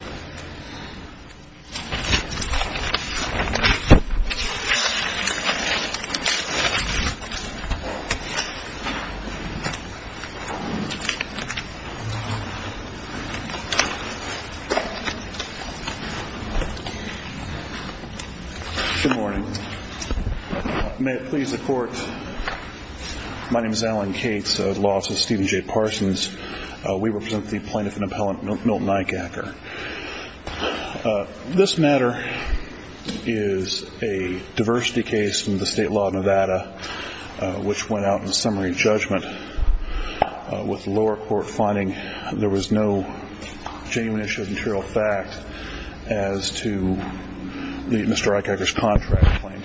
Good morning. May it please the Court, my name is Alan Cates, Law Office of Steven J. Eishaker. This matter is a diversity case from the State Law of Nevada which went out in summary judgment with the lower court finding there was no genuine issue of material fact as to Mr. Eishaker's contract claim.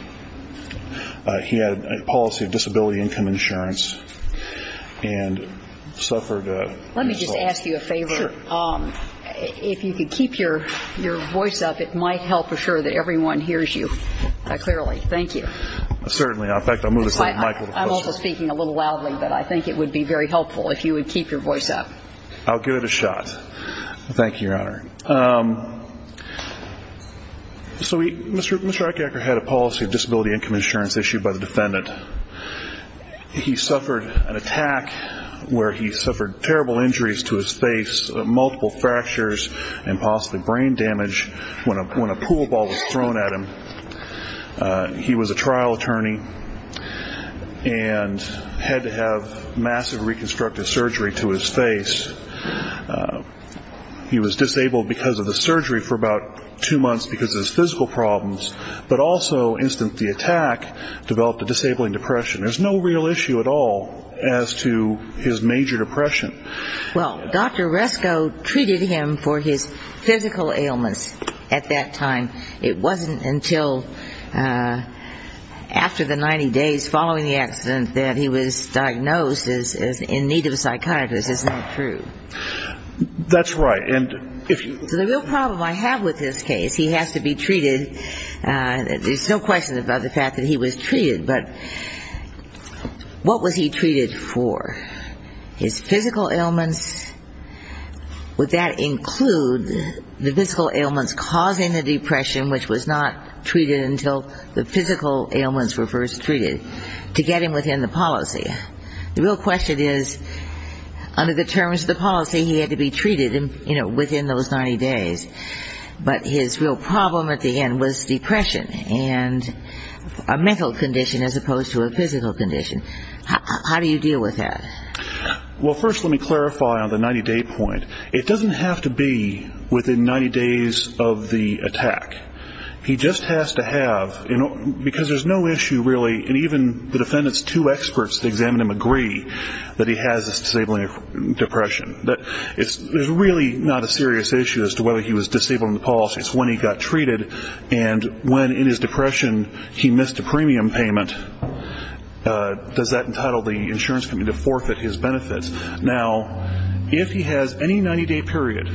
He had a policy of disability income insurance and he had a policy of disability income insurance issued by the defendant. He suffered an attack where he suffered terrible injuries to his face, multiple fractures and possibly brain damage when a pool ball was thrown at him. He was a trial attorney and had to have massive reconstructive surgery to his face. He was disabled because of the surgery for about two months because of his physical problems, but also the instant the attack developed a disabling depression. There's no real issue at all as to his major depression. Well, Dr. Resko treated him for his physical ailments at that time. It wasn't until after the 90 days following the accident that he was diagnosed as in need of a psychiatrist, is that true? That's right. So the real problem I have with this case, he has to be treated, there's no question about the fact that he was treated, but what was he treated for? His physical ailments, would that include the physical ailments causing the depression, which was not treated until the physical ailments were first treated, to get him within the policy? The real question is under the terms of the policy, he had to be treated within those 90 days. But his real problem at the end was depression and a mental condition as opposed to a physical condition. How do you deal with that? Well, first let me clarify on the 90-day point. It doesn't have to be within 90 days of the attack. He just has to have, because there's no issue really, and even the defendant's two experts that examine him agree that he has this disabling depression. There's really not a serious issue as to whether he was disabled in the policy. It's when he got treated and when in his depression he missed a premium payment. Does that entitle the insurance company to forfeit his benefits? Now, if he has any 90-day period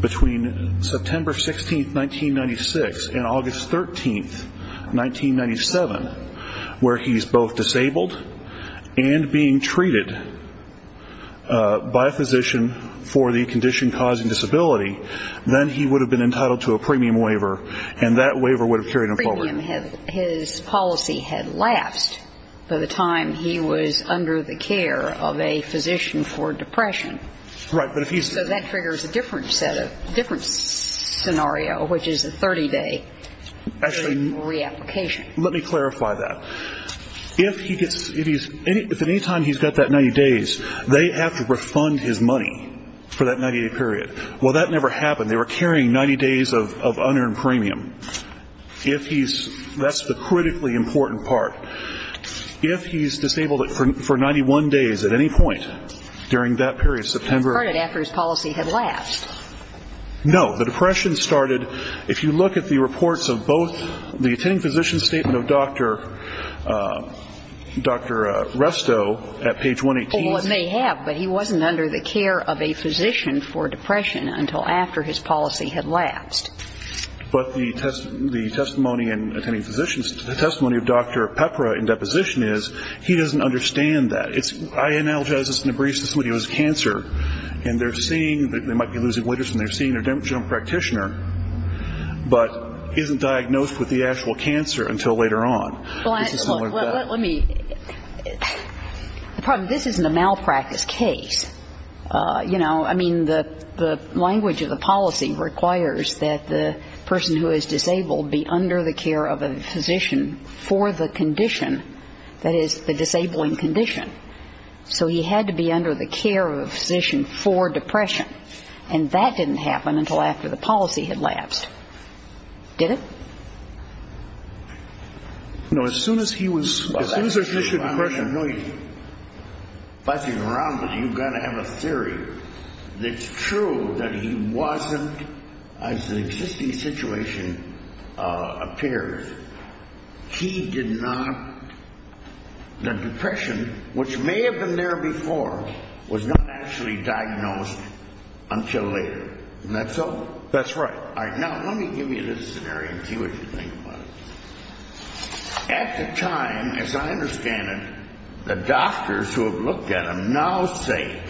between September 16, 1996 and August 13, 1997, where he's both causing disability, then he would have been entitled to a premium waiver, and that waiver would have carried him forward. Premium, his policy had lapsed by the time he was under the care of a physician for depression. Right, but if he's So that triggers a different scenario, which is a 30-day reapplication. Let me clarify that. If at any time he's got that 90 days, they have to refund his money for that 90-day period. Well, that never happened. They were carrying 90 days of unearned premium. If he's, that's the critically important part. If he's disabled for 91 days at any point during that period of September It started after his policy had lapsed. No. The depression started, if you look at the reports of both the attending physician's statement of Dr. Restow at page 118 Well, it may have, but he wasn't under the care of a physician for depression until after his policy had lapsed. But the testimony of Dr. Pepra in deposition is, he doesn't understand that. I analogize this in a brief to somebody who has cancer, and they're seeing, they might be losing weight or something, they're seeing their general practitioner, but isn't diagnosed with the actual cancer until later on. Well, let me, the problem, this isn't a malpractice case. You know, I mean, the language of the policy requires that the person who is disabled be under the care of a physician for the condition that is the disabling condition. So he had to be under the care of a physician for depression. And that didn't happen until after the policy had lapsed. Did it? No, as soon as he was, as soon as he was in depression, I know you're buzzing around, but you got to have a theory. It's true that he wasn't, as the existing situation appears, he did not, the depression, which may have been there before, was not actually diagnosed until later. Isn't that so? That's right. Now, let me give you this scenario and see what you think about it. At the time, as I understand it, the doctors who have looked at him now say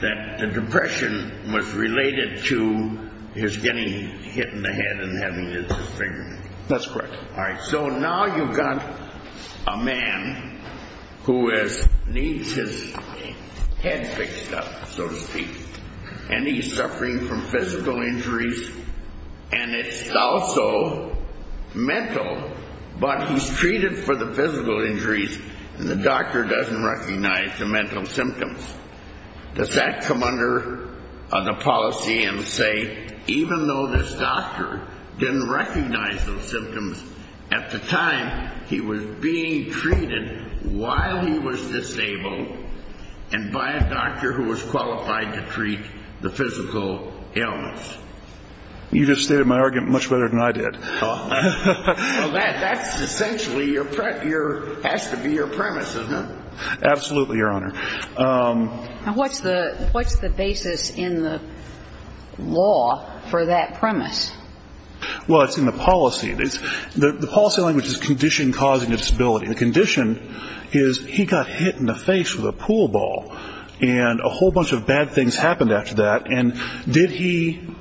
that the depression was related to his getting hit in the head and having his finger. That's correct. All right. So now you've got a man who needs his head fixed up, so to speak, and he's suffering from physical injuries and it's also mental, but he's treated for the physical injuries and the doctor doesn't recognize the mental symptoms. Does that come under the policy and say, even though this doctor didn't recognize those symptoms, at the time he was being treated while he was disabled and by a doctor who was qualified to treat the physical illness? You just stated my argument much better than I did. Well, that's essentially, has to be your premise, isn't it? Absolutely, Your Honor. Now, what's the basis in the law for that premise? Well, it's in the policy. The policy language is condition causing a disability. The condition is he got hit in the face with a pool ball and a whole bunch of bad things happened after that and did he,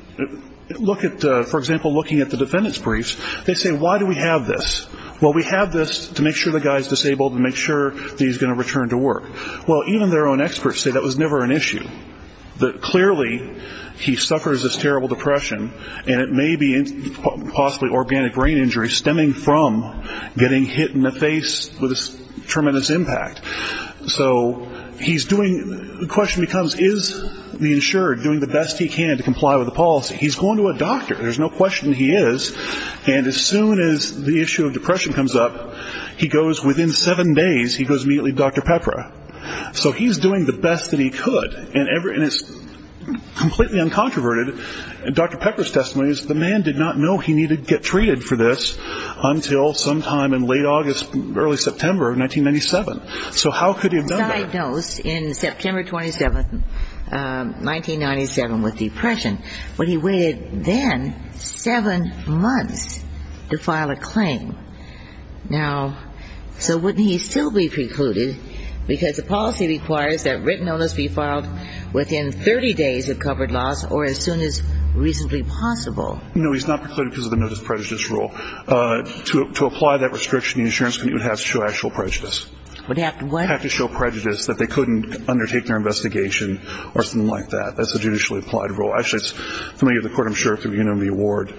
for example, looking at the defendant's briefs, they say, why do we have this? Well, we have this to make sure the guy is disabled and make sure that he's going to return to work. Well, even their own experts say that was never an issue. Clearly, he suffers this terrible depression and it may be possibly organic brain injury stemming from getting hit in the face with a tremendous impact. So he's doing, the question becomes, is the insured doing the best he can to comply with the policy? He's going to a doctor. There's no question he is. And as soon as the issue of depression comes up, he goes, within seven days, he goes immediately to Dr. Pepra. So he's doing the best that he could and it's completely uncontroverted. Dr. Pepra's testimony is the man did not know he needed to get treated for this until sometime in late August, early September of 1997. So how could he have done that? He was diagnosed in September 27th, 1997, with depression. But he waited then seven months to file a claim. Now, so wouldn't he still be precluded because the policy requires that written notice be filed within 30 days of covered loss or as soon as reasonably possible? No, he's not precluded because of the notice prejudice rule. To apply that restriction, the insurance committee would have to show actual prejudice. Would have to what? Have to show prejudice that they couldn't undertake their investigation or something like that. That's a judicially applied rule. Actually, it's familiar to the court, I'm sure, if you've been to the award.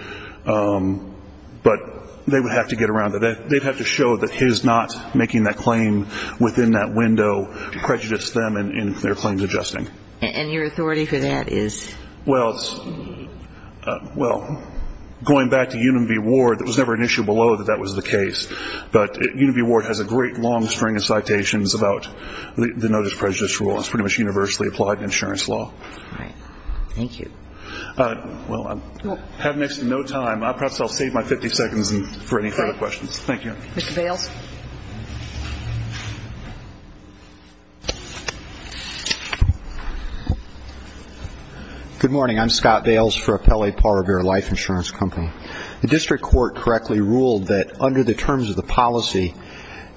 But they would have to get around it. They'd have to show that his not making that claim within that window prejudiced them in their claims adjusting. And your authority for that is? Well, it's, well, going back to Union v. Ward, it was never an issue below that that was the case. But Union v. Ward has a great long string of citations about the notice prejudice rule. It's pretty much universally applied in insurance law. All right. Thank you. Well, I have next to no time. Perhaps I'll save my 50 seconds for any further questions. Thank you. Mr. Bales. Good morning. I'm Scott Bales for Appellee Parber Life Insurance Company. The district court correctly ruled that under the terms of the policy,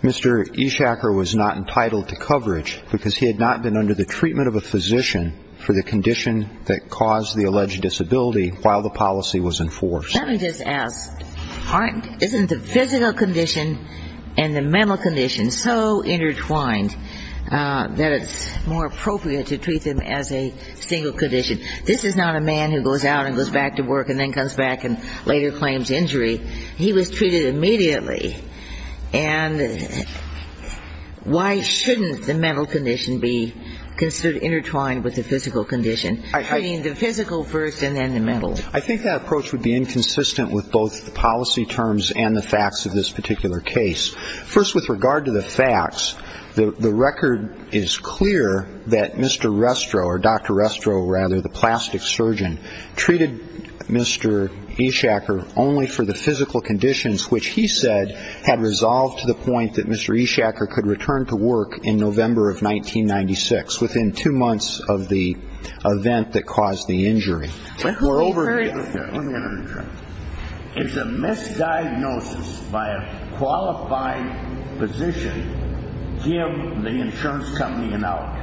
Mr. Ishaker was not entitled to coverage because he had not been under the treatment of a physician for the condition that caused the alleged disability while the policy was enforced. Let me just ask, isn't the physical condition and the mental condition so intertwined that it's more appropriate to treat them as a single condition? This is not a man who goes out and goes back to work and then comes back and later claims injury. He was treated immediately. And why shouldn't the mental condition be considered intertwined with the physical condition? I mean, the physical first and then the mental. I think that approach would be inconsistent with both the policy terms and the facts of this particular case. First, with regard to the facts, the record is clear that Mr. Restro or Dr. Restro, rather, the plastic surgeon, treated Mr. Ishaker only for the physical conditions which he said had resolved to the point that Mr. Ishaker could return to work in November of 1996, within two months of the event that caused the injury. Let me get another drink. Is a misdiagnosis by a qualified physician given the insurance company an out?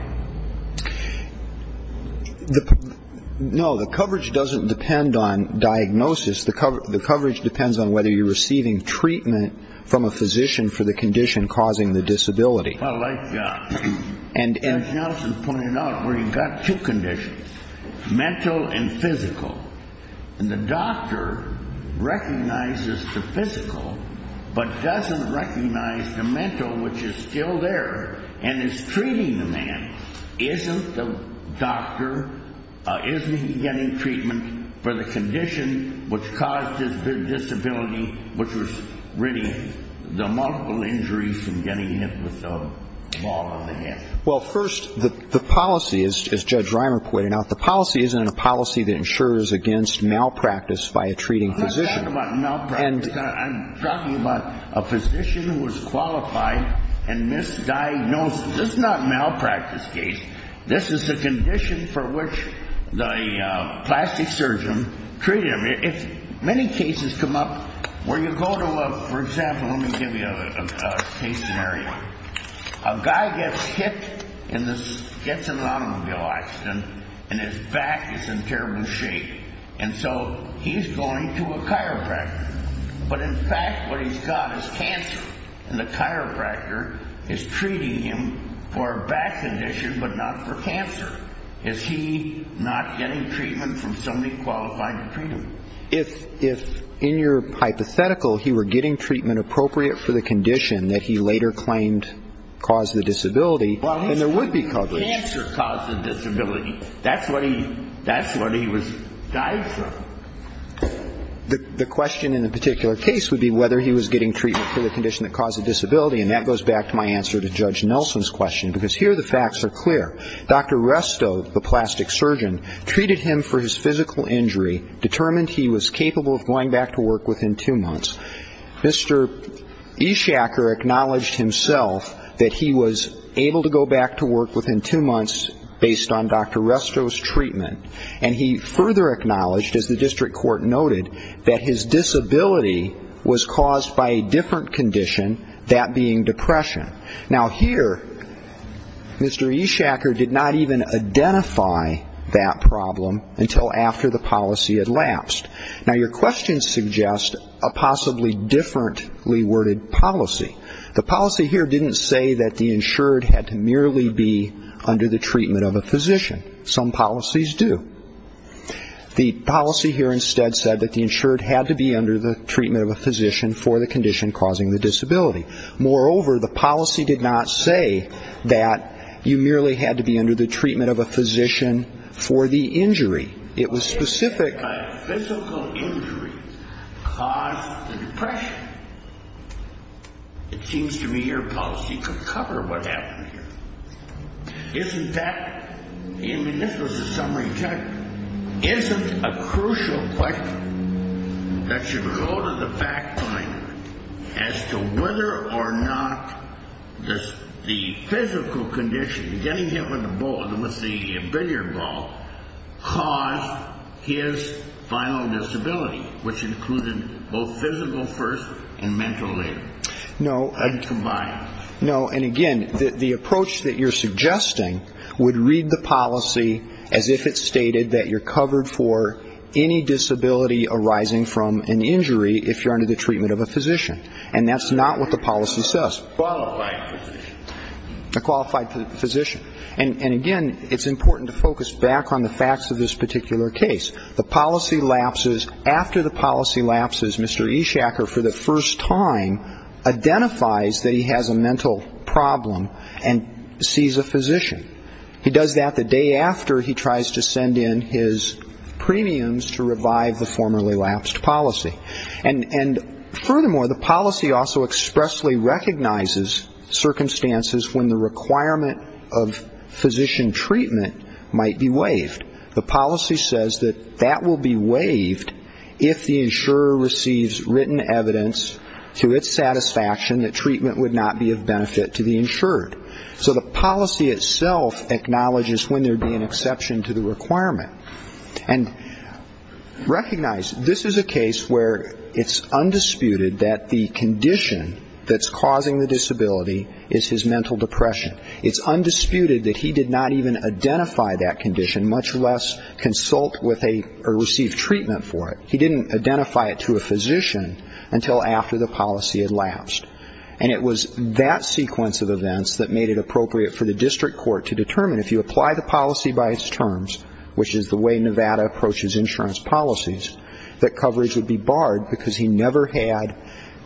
No, the coverage doesn't depend on diagnosis. The coverage depends on whether you're receiving treatment from a physician for the condition causing the disability. I like that. And Nelson pointed out where he got two conditions, mental and physical. And the doctor recognizes the physical, but doesn't recognize the mental, which is still there and is treating the man. Isn't the doctor, isn't he getting treatment for the condition which caused his disability, which was really the multiple injuries from getting hit with a ball on the head? Well, first, the policy, as Judge Reimer pointed out, the policy isn't a policy that insures against malpractice by a treating physician. I'm not talking about malpractice. I'm talking about a physician who was qualified and misdiagnosed. This is not a malpractice case. This is a condition for which the plastic surgeon treated him. Many cases come up where you go to a, for example, let me give you a case scenario. A guy gets hit, gets in an automobile accident, and his back is in terrible shape. And so he's going to a chiropractor. But in fact, what he's got is cancer. And the chiropractor is treating him for a back condition, but not for cancer. Is he not getting treatment from somebody qualified to treat him? If, if in your hypothetical, he were getting treatment appropriate for the condition that he later claimed caused the disability, then there would be coverage. Well, his cancer caused the disability. That's what he, that's what he was died from. The, the question in the particular case would be whether he was getting treatment for the condition that caused the disability. And that goes back to my answer to Judge Nelson's question. Because here the facts are clear. Dr. Restow, the plastic surgeon, treated him for his physical injury, determined he was capable of going back to work within two months. Mr. Ishaker acknowledged himself that he was able to go back to work within two months based on Dr. Restow's treatment. And he further acknowledged, as the district court noted, that his disability was caused by a different condition, that being depression. Now here, Mr. Ishaker did not even identify that problem until after the policy had lapsed. Now your question suggests a possibly differently worded policy. The policy here didn't say that the insured had to merely be under the treatment of a physician. Some policies do. The policy here instead said that the insured had to be under the treatment of a physician for the condition causing the disability. Moreover, the policy did not say that you merely had to be under the treatment of a physician for the injury. It was specific by a physical injury caused by depression. It seems to me your policy could cover what happened here. Isn't that, and this was a summary judgment, isn't a crucial question that should go to the fact finder as to whether or not the physical condition, getting hit with a ball, with the billiard ball, caused his final disability, which included both physical first and mental later. No. And combined. No. And again, the approach that you're suggesting would read the policy as if it stated that you're covered for any disability arising from an injury if you're under the treatment of a physician. And that's not what the policy says. Qualified physician. A qualified physician. And again, it's important to focus back on the facts of this particular case. The policy lapses, after the policy lapses, Mr. Eshacker for the first time identifies that he has a mental problem and sees a physician. He does that the day after he tries to send in his premiums to revive the formerly lapsed policy. And furthermore, the policy also expressly recognizes circumstances when the requirement of physician treatment might be waived. The policy says that that will be waived if the insurer receives written evidence to its satisfaction that treatment would not be of benefit to the insured. So the policy itself acknowledges when there would be an exception to the requirement. And recognize this is a case where it's undisputed that the condition that's causing the disability is his mental depression. It's undisputed that he did not even identify that condition, much less consult with a or receive treatment for it. He didn't identify it to a physician until after the policy had lapsed. And it was that sequence of events that made it appropriate for the district court to determine if you apply the policy by its terms, which is the way Nevada approaches insurance policies, that coverage would be barred because he never had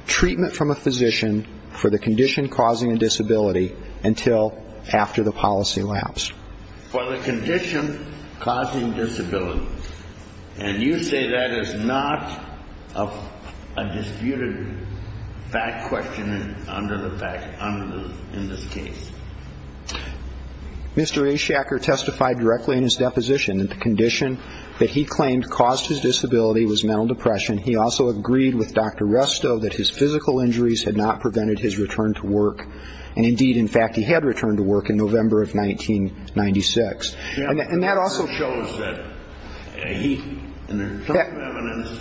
treatment from a physician for the condition causing a disability until after the policy lapsed. For the condition causing disability, and you say that is not a policy that's going to be waived, it's undisputed fact-questioning under the fact, under the, in this case. Mr. A. Shacker testified directly in his deposition that the condition that he claimed caused his disability was mental depression. He also agreed with Dr. Restow that his physical injuries had not prevented his return to work. And indeed, in fact, he had returned to work in November of 1996. And that also shows that he, in terms of evidence,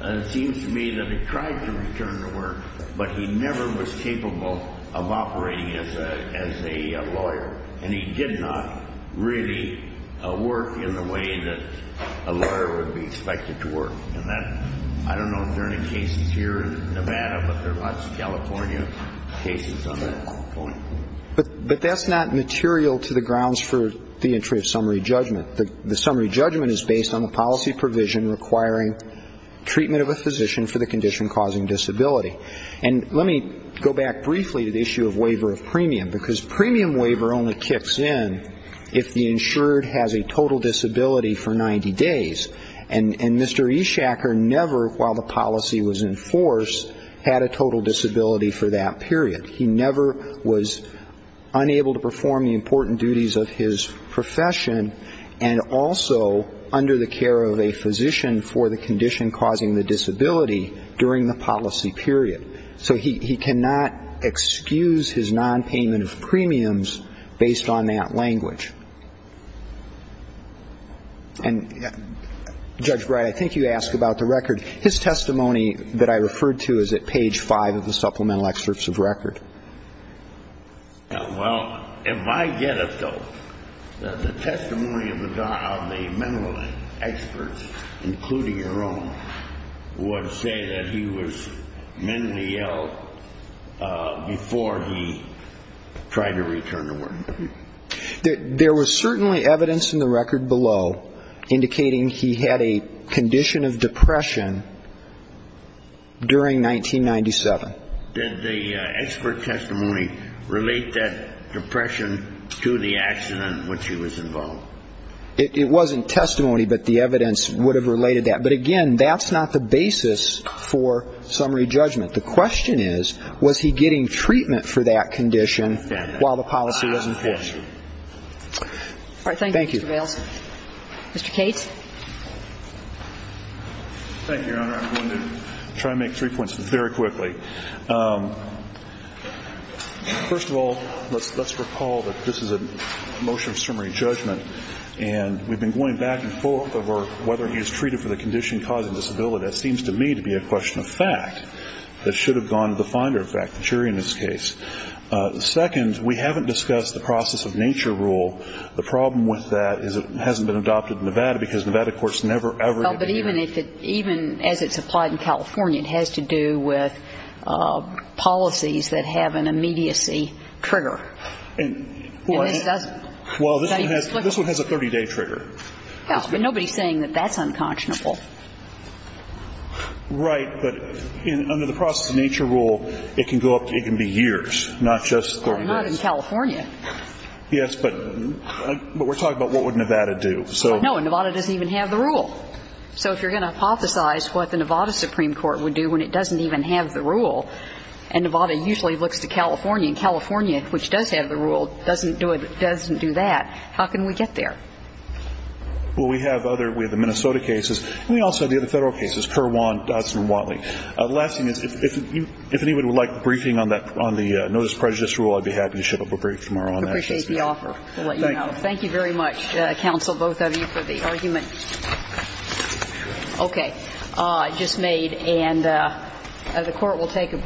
it seems to me that he tried to return to work, but he never was capable of operating as a lawyer. And he did not really work in the way that a lawyer would be expected to work. And that, I don't know if there are any cases here in Nevada, but there are lots of California cases on that point. But that's not material to the grounds for the entry of summary judgment. The summary judgment is based on the policy provision requiring treatment of a physician for the condition causing disability. And let me go back briefly to the issue of waiver of premium, because premium waiver only kicks in if the insured has a total disability for 90 days. And Mr. A. Shacker never, while the policy was in force, had a total disability for that period. He never was unable to perform the important duties of his profession, and also under the care of a physician for the condition causing the disability during the policy period. So he cannot excuse his nonpayment of premiums based on that language. And Judge Brey, I think you asked about the record. His testimony that I referred to is at page 5 of the supplemental excerpts of record. Well, if I get it, though, the testimony of the mental experts, including your own, would say that he was mentally ill before he tried to return to work. There was certainly evidence in the record below indicating he had a condition of depression during 1997. Did the expert testimony relate that depression to the accident in which he was involved? It wasn't testimony, but the evidence would have related that. But, again, that's not the basis for summary judgment. The question is, was he getting treatment for that condition while the policy was in force? All right. Thank you, Mr. Vailes. Thank you. Mr. Cates. Thank you, Your Honor. I'm going to try to make three points very quickly. First of all, let's recall that this is a motion of summary judgment. And we've been going back and forth over whether he was treated for the condition causing disability. That seems to me to be a question of fact that should have gone to the finder, in fact, the jury in this case. Second, we haven't discussed the process of nature rule. The problem with that is it hasn't been adopted in Nevada because Nevada courts never, ever have been there. But even as it's applied in California, it has to do with policies that have an immediacy trigger. And this doesn't. Well, this one has a 30-day trigger. Well, but nobody's saying that that's unconscionable. Right. But under the process of nature rule, it can go up to, it can be years, not just 30 days. Well, not in California. Yes, but we're talking about what would Nevada do. No, and Nevada doesn't even have the rule. So if you're going to hypothesize what the Nevada Supreme Court would do when it doesn't even have the rule, and Nevada usually looks to California, and California, which does have the rule, doesn't do that, how can we get there? Well, we have other, we have the Minnesota cases, and we also have the other Federal cases, Kerr-Want, Dodson-Watley. The last thing is, if anyone would like a briefing on that, on the notice of prejudice rule, I'd be happy to ship up a brief tomorrow on that. Appreciate the offer. We'll let you know. Thank you. Thank you very much, counsel, both of you, for the argument. Okay. Just made. And the court is adjourned. Thank you.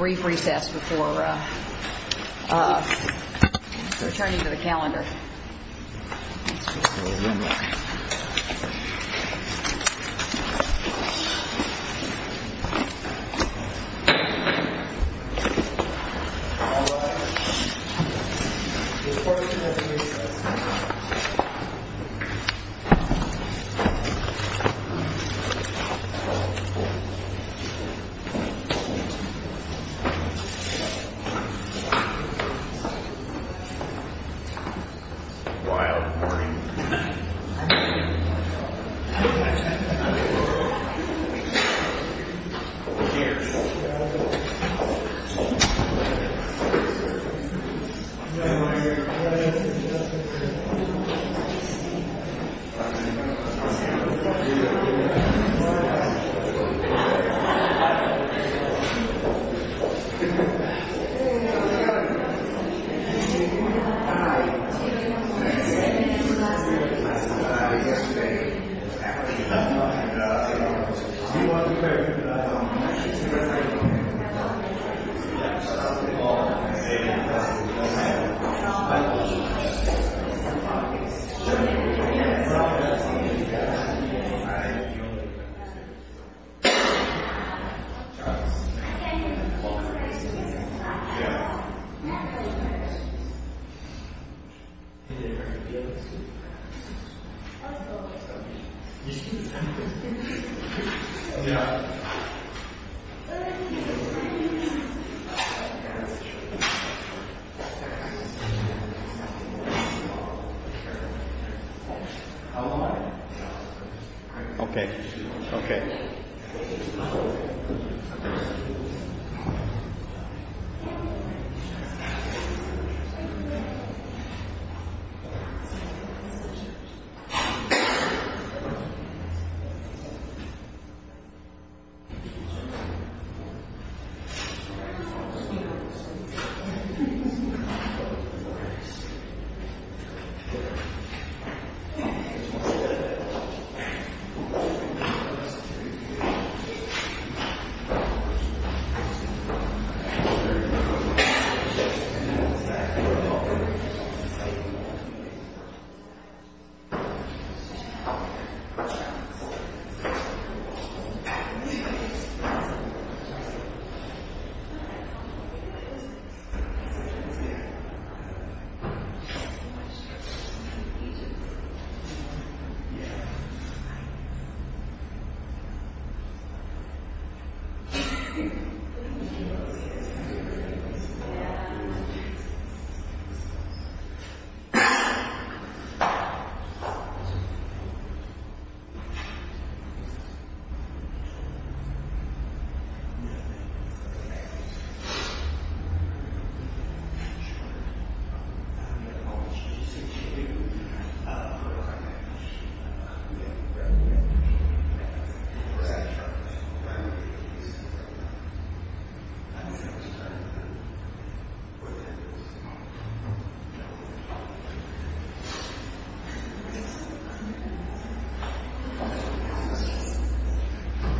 Thank you.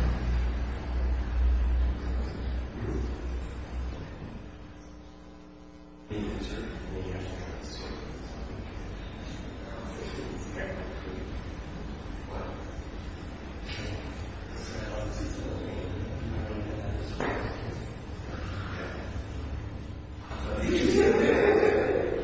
Thank you.